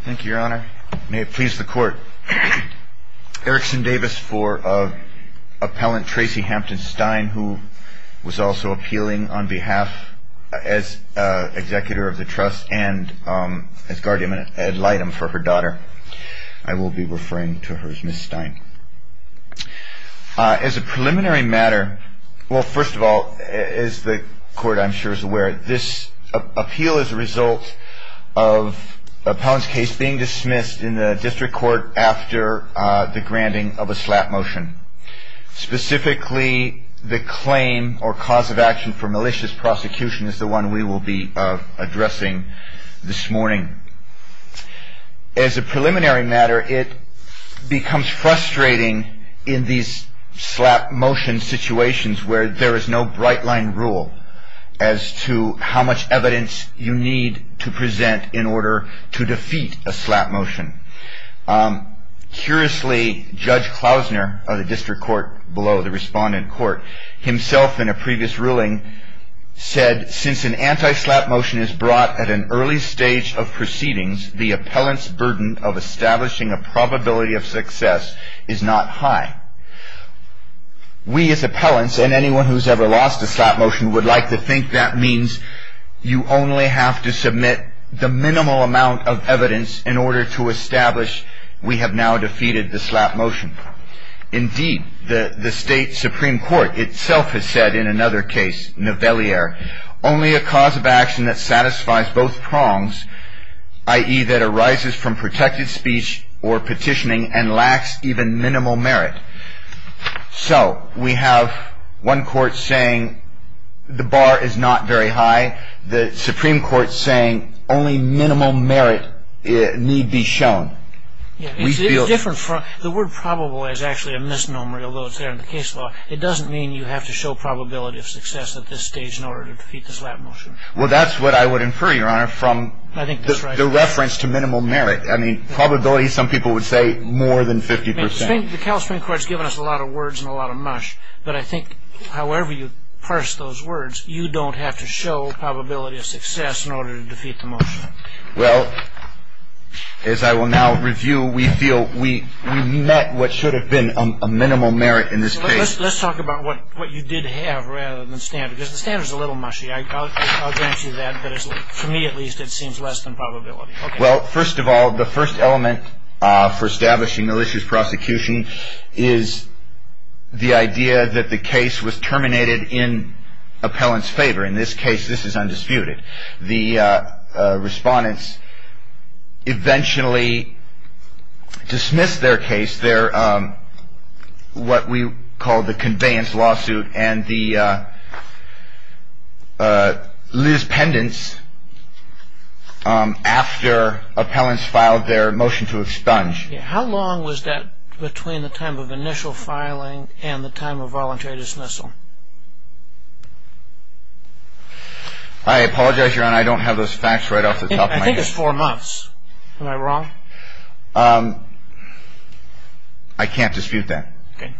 Thank you, Your Honor. May it please the Court, Erickson Davis for Appellant Tracey Hampton-Stein, who was also appealing on behalf, as executor of the trust, and as guardian ad litem for her daughter. I will be referring to her as Miss Stein. As a preliminary matter, well, first of all, as the Court, I'm sure, is aware, this appeal is a result of an appellant's case being dismissed in the District Court after the granting of a slap motion. Specifically, the claim or cause of action for malicious prosecution is the one we will be addressing this morning. As a preliminary matter, it becomes frustrating in these slap motion situations where there is no bright line rule as to how much evidence you need to present in order to defeat a slap motion. Curiously, Judge Klausner of the District Court below the Respondent Court himself, in a previous ruling, said, Since an anti-slap motion is brought at an early stage of proceedings, the appellant's burden of establishing a probability of success is not high. We as appellants, and anyone who has ever lost a slap motion, would like to think that means you only have to submit the minimal amount of evidence in order to establish we have now defeated the slap motion. Indeed, the State Supreme Court itself has said in another case, Nivelliere, only a cause of action that satisfies both prongs, i.e., that arises from protected speech or petitioning and lacks even minimal merit. So, we have one court saying the bar is not very high, the Supreme Court saying only minimal merit need be shown. The word probable is actually a misnomer, although it's there in the case law. It doesn't mean you have to show probability of success at this stage in order to defeat the slap motion. Well, that's what I would infer, Your Honor, from the reference to minimal merit. I mean, probability, some people would say, more than 50%. The California Supreme Court has given us a lot of words and a lot of mush, but I think however you parse those words, you don't have to show probability of success in order to defeat the motion. Well, as I will now review, we feel we met what should have been a minimal merit in this case. Let's talk about what you did have rather than standard, because the standard is a little mushy. I'll grant you that, but for me at least it seems less than probability. Well, first of all, the first element for establishing malicious prosecution is the idea that the case was terminated in appellant's favor. In this case, this is undisputed. The respondents eventually dismissed their case, what we call the conveyance lawsuit, and the liaise pendants after appellants filed their motion to expunge. How long was that between the time of initial filing and the time of voluntary dismissal? I apologize, Your Honor, I don't have those facts right off the top of my head. I think it's four months. Am I wrong? I can't dispute that. Okay.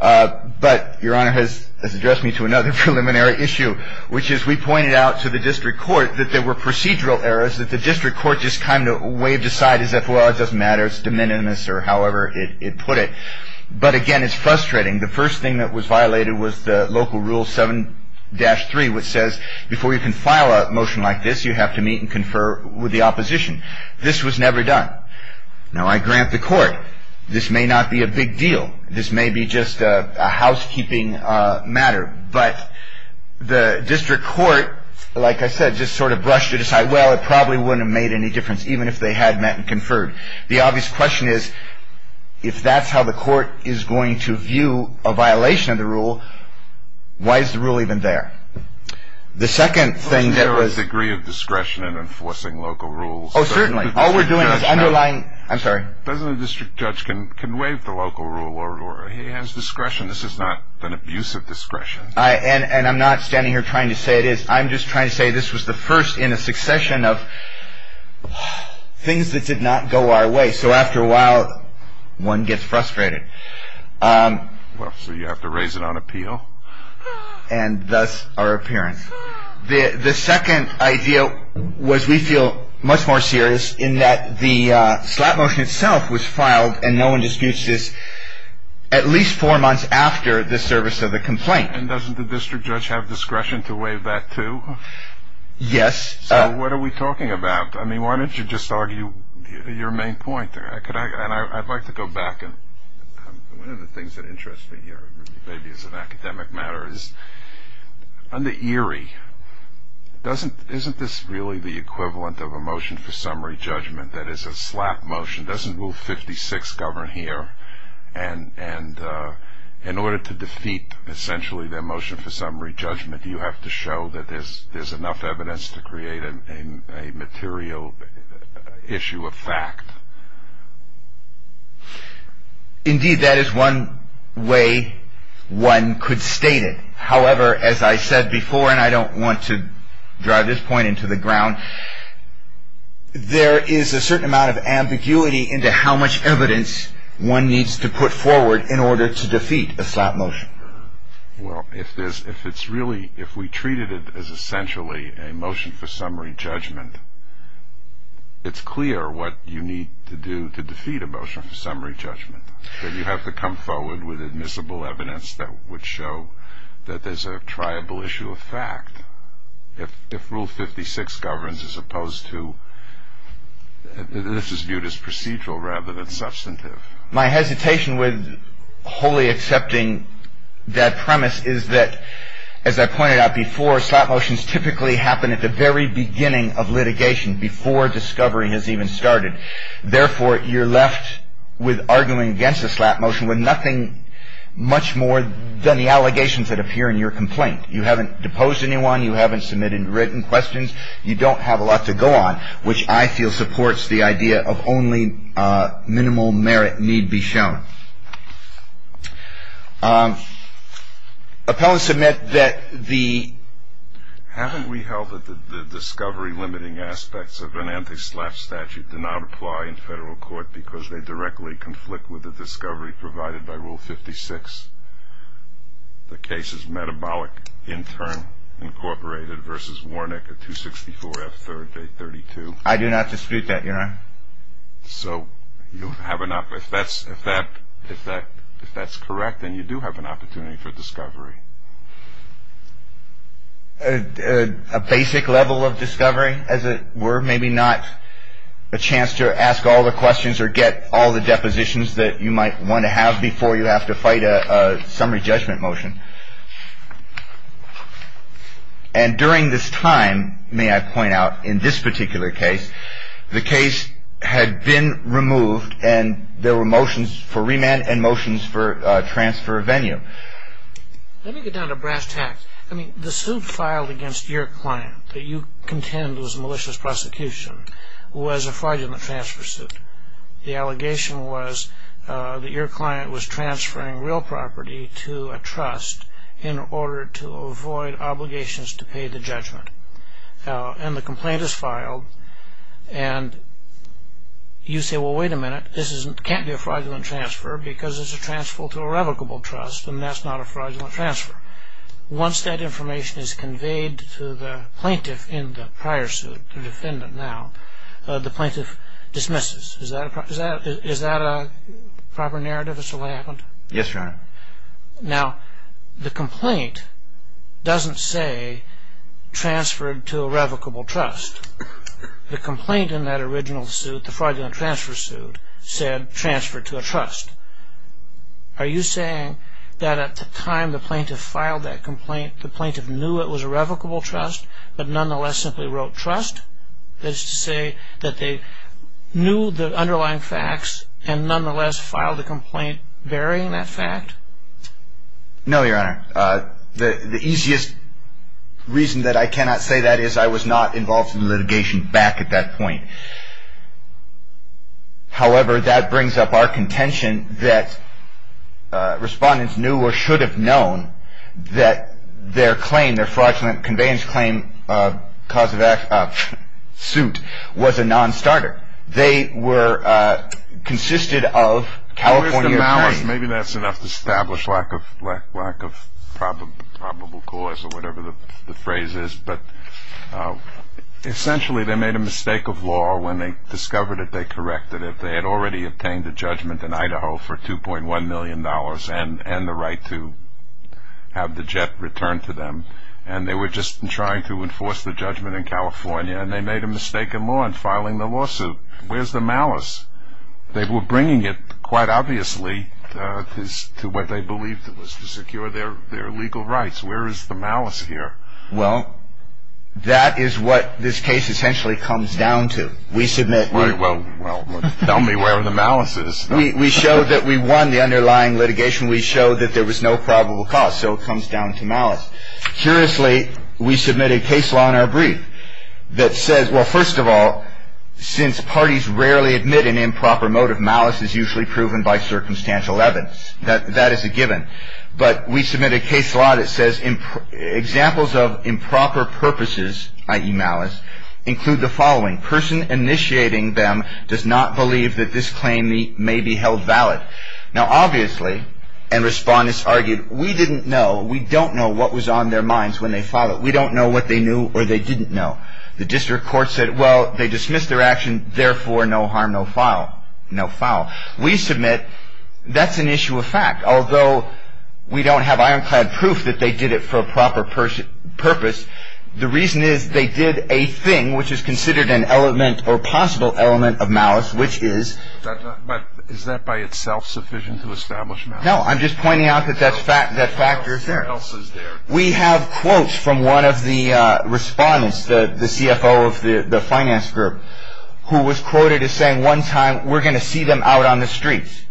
But Your Honor has addressed me to another preliminary issue, which is we pointed out to the district court that there were procedural errors, that the district court just kind of waved aside and said, well, it doesn't matter, it's de minimis or however it put it. But again, it's frustrating. The first thing that was violated was the local rule 7-3, which says before you can file a motion like this, you have to meet and confer with the opposition. This was never done. Now, I grant the court this may not be a big deal. This may be just a housekeeping matter. But the district court, like I said, just sort of brushed it aside. Well, it probably wouldn't have made any difference even if they had met and conferred. The obvious question is, if that's how the court is going to view a violation of the rule, why is the rule even there? The second thing that was… There was a degree of discretion in enforcing local rules. Oh, certainly. All we're doing is underlying… I'm sorry. Doesn't a district judge can waive the local rule or he has discretion? This is not an abuse of discretion. And I'm not standing here trying to say it is. I'm just trying to say this was the first in a succession of things that did not go our way. So after a while, one gets frustrated. Well, so you have to raise it on appeal. And thus, our appearance. The second idea was we feel much more serious in that the slap motion itself was filed and no one disputes this at least four months after the service of the complaint. And doesn't the district judge have discretion to waive that, too? Yes. So what are we talking about? I mean, why don't you just argue your main point? And I'd like to go back. One of the things that interests me here, maybe as an academic matter, is under Erie, isn't this really the equivalent of a motion for summary judgment? That is, a slap motion. Doesn't Rule 56 govern here? And in order to defeat, essentially, their motion for summary judgment, do you have to show that there's enough evidence to create a material issue of fact? Indeed, that is one way one could state it. However, as I said before, and I don't want to drive this point into the ground, there is a certain amount of ambiguity into how much evidence one needs to put forward in order to defeat a slap motion. Well, if it's really, if we treated it as essentially a motion for summary judgment, it's clear what you need to do to defeat a motion for summary judgment. You have to come forward with admissible evidence that would show that there's a triable issue of fact. If Rule 56 governs as opposed to, this is viewed as procedural rather than substantive. My hesitation with wholly accepting that premise is that, as I pointed out before, slap motions typically happen at the very beginning of litigation, before discovery has even started. Therefore, you're left with arguing against a slap motion with nothing much more than the allegations that appear in your complaint. You haven't deposed anyone, you haven't submitted written questions, you don't have a lot to go on, which I feel supports the idea of only minimal merit need be shown. Appellants submit that the... Haven't we held that the discovery limiting aspects of an anti-slap statute do not apply in federal court because they directly conflict with the discovery provided by Rule 56? The case is Metabolic Intern Incorporated v. Warnick at 264 F. 3rd, Day 32. I do not dispute that, Your Honor. So, if that's correct, then you do have an opportunity for discovery. A basic level of discovery, as it were, maybe not a chance to ask all the questions or get all the depositions that you might want to have before you have to fight a summary judgment motion. And during this time, may I point out, in this particular case, the case had been removed and there were motions for remand and motions for transfer of venue. Let me get down to brass tacks. I mean, the suit filed against your client that you contend was a malicious prosecution was a fraudulent transfer suit. The allegation was that your client was transferring real property to a trust in order to avoid obligations to pay the judgment. And the complaint is filed and you say, well, wait a minute, this can't be a fraudulent transfer because it's a transfer to a revocable trust and that's not a fraudulent transfer. Once that information is conveyed to the plaintiff in the prior suit, the defendant now, the plaintiff dismisses. Is that a proper narrative as to what happened? Yes, Your Honor. Now, the complaint doesn't say transferred to a revocable trust. The complaint in that original suit, the fraudulent transfer suit, said transferred to a trust. Are you saying that at the time the plaintiff filed that complaint, the plaintiff knew it was a revocable trust but nonetheless simply wrote trust? That is to say that they knew the underlying facts and nonetheless filed the complaint bearing that fact? No, Your Honor. The easiest reason that I cannot say that is I was not involved in litigation back at that point. However, that brings up our contention that respondents knew or should have known that their claim, their fraudulent conveyance claim suit was a nonstarter. They were consisted of California attorneys. Maybe that's enough to establish lack of probable cause or whatever the phrase is, but essentially they made a mistake of law. When they discovered it, they corrected it. They had already obtained a judgment in Idaho for $2.1 million and the right to have the jet returned to them, and they were just trying to enforce the judgment in California, and they made a mistake of law in filing the lawsuit. Where's the malice? They were bringing it, quite obviously, to what they believed was to secure their legal rights. Where is the malice here? Well, that is what this case essentially comes down to. We submit. Well, tell me where the malice is. We show that we won the underlying litigation. We show that there was no probable cause, so it comes down to malice. Curiously, we submit a case law in our brief that says, well, first of all, since parties rarely admit an improper motive, malice is usually proven by circumstantial evidence. That is a given. But we submit a case law that says examples of improper purposes, i.e. malice, include the following. Person initiating them does not believe that this claim may be held valid. Now, obviously, and respondents argued, we didn't know. We don't know what was on their minds when they filed it. We don't know what they knew or they didn't know. The district court said, well, they dismissed their action, therefore, no harm, no foul. We submit that's an issue of fact, although we don't have ironclad proof that they did it for a proper purpose. The reason is they did a thing which is considered an element or possible element of malice, which is. But is that by itself sufficient to establish malice? No, I'm just pointing out that that factor is there. We have quotes from one of the respondents, the CFO of the finance group, who was quoted as saying one time, we're going to see them out on the streets.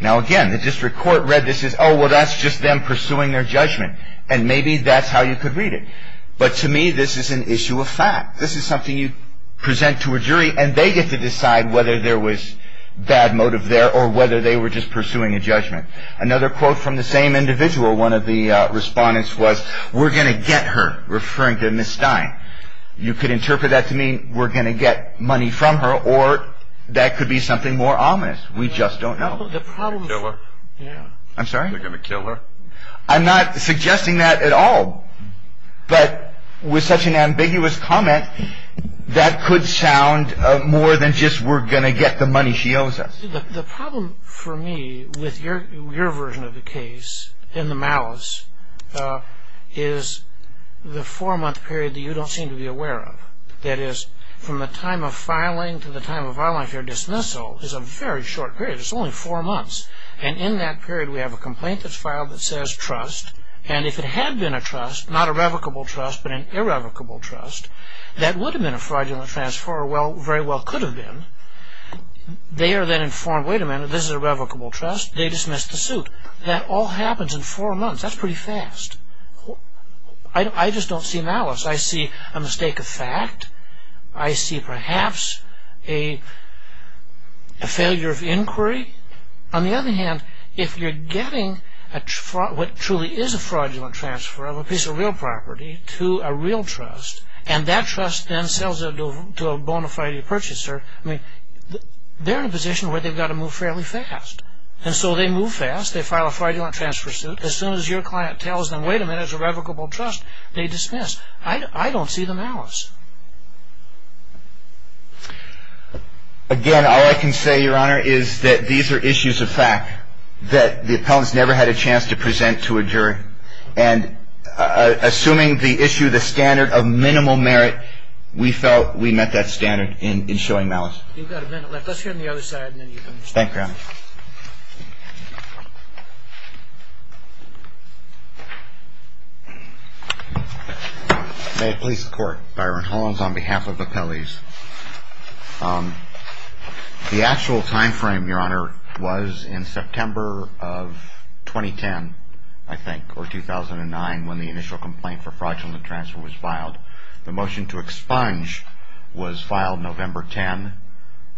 Now, again, the district court read this as, oh, well, that's just them pursuing their judgment. And maybe that's how you could read it. But to me, this is an issue of fact. This is something you present to a jury and they get to decide whether there was bad motive there or whether they were just pursuing a judgment. Another quote from the same individual, one of the respondents was, we're going to get her, referring to Ms. Stein. You could interpret that to mean we're going to get money from her or that could be something more ominous. We just don't know. I'm sorry? They're going to kill her? I'm not suggesting that at all. But with such an ambiguous comment, that could sound more than just we're going to get the money she owes us. The problem for me with your version of the case in the malice is the four-month period that you don't seem to be aware of. That is, from the time of filing to the time of filing if you're dismissal is a very short period. It's only four months. And in that period we have a complaint that's filed that says trust. And if it had been a trust, not a revocable trust, but an irrevocable trust, that would have been a fraudulent transfer or very well could have been. They are then informed, wait a minute, this is a revocable trust. They dismiss the suit. That all happens in four months. That's pretty fast. I just don't see malice. I see a mistake of fact. I see perhaps a failure of inquiry. On the other hand, if you're getting what truly is a fraudulent transfer of a piece of real property to a real trust, and that trust then sells it to a bona fide purchaser, they're in a position where they've got to move fairly fast. And so they move fast. They file a fraudulent transfer suit. As soon as your client tells them, wait a minute, it's a revocable trust, they dismiss. I don't see the malice. Again, all I can say, Your Honor, is that these are issues of fact that the appellants never had a chance to present to a jury. And assuming the issue, the standard of minimal merit, we felt we met that standard in showing malice. You've got a minute left. Let's hear on the other side and then you can respond. Thank you, Your Honor. Thank you. May it please the Court. Byron Hollins on behalf of appellees. The actual time frame, Your Honor, was in September of 2010, I think, or 2009 when the initial complaint for fraudulent transfer was filed. The motion to expunge was filed November 10.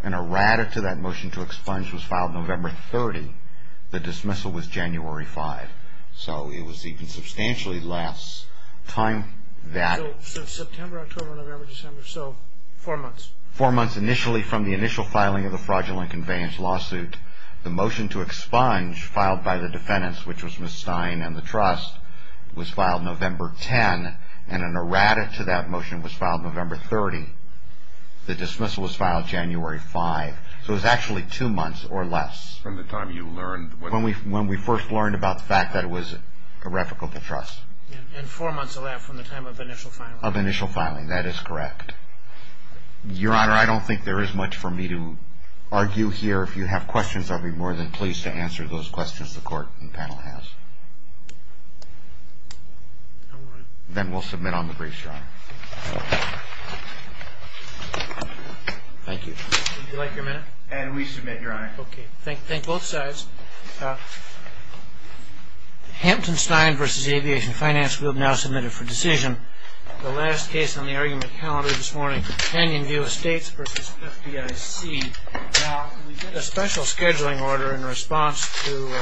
An errata to that motion to expunge was filed November 30. The dismissal was January 5. So it was even substantially less. So September, October, November, December. So four months. Four months initially from the initial filing of the fraudulent conveyance lawsuit. The motion to expunge filed by the defendants, which was Ms. Stein and the trust, was filed November 10. And an errata to that motion was filed November 30. The dismissal was filed January 5. So it was actually two months or less. From the time you learned. When we first learned about the fact that it was a replica of the trust. And four months of that from the time of initial filing. Of initial filing. That is correct. Your Honor, I don't think there is much for me to argue here. If you have questions, I'll be more than pleased to answer those questions the Court and panel has. All right. Then we'll submit on the briefs, Your Honor. Thank you. Would you like your minute? And we submit, Your Honor. Okay. Thank both sides. Hampton Stein v. Aviation Finance Group now submitted for decision the last case on the argument calendar this morning. Canyon View Estates v. FDIC. Now, we did a special scheduling order in response to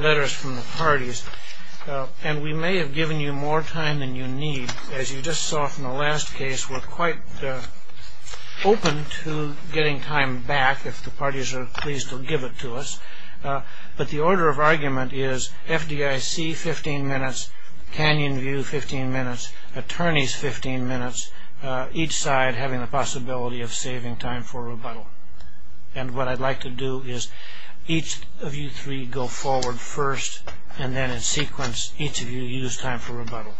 letters from the parties. And we may have given you more time than you need. As you just saw from the last case, we're quite open to getting time back if the parties are pleased to give it to us. But the order of argument is FDIC, 15 minutes. Canyon View, 15 minutes. Attorneys, 15 minutes. Each side having the possibility of saving time for rebuttal. And what I'd like to do is each of you three go forward first, and then in sequence, each of you use time for rebuttal.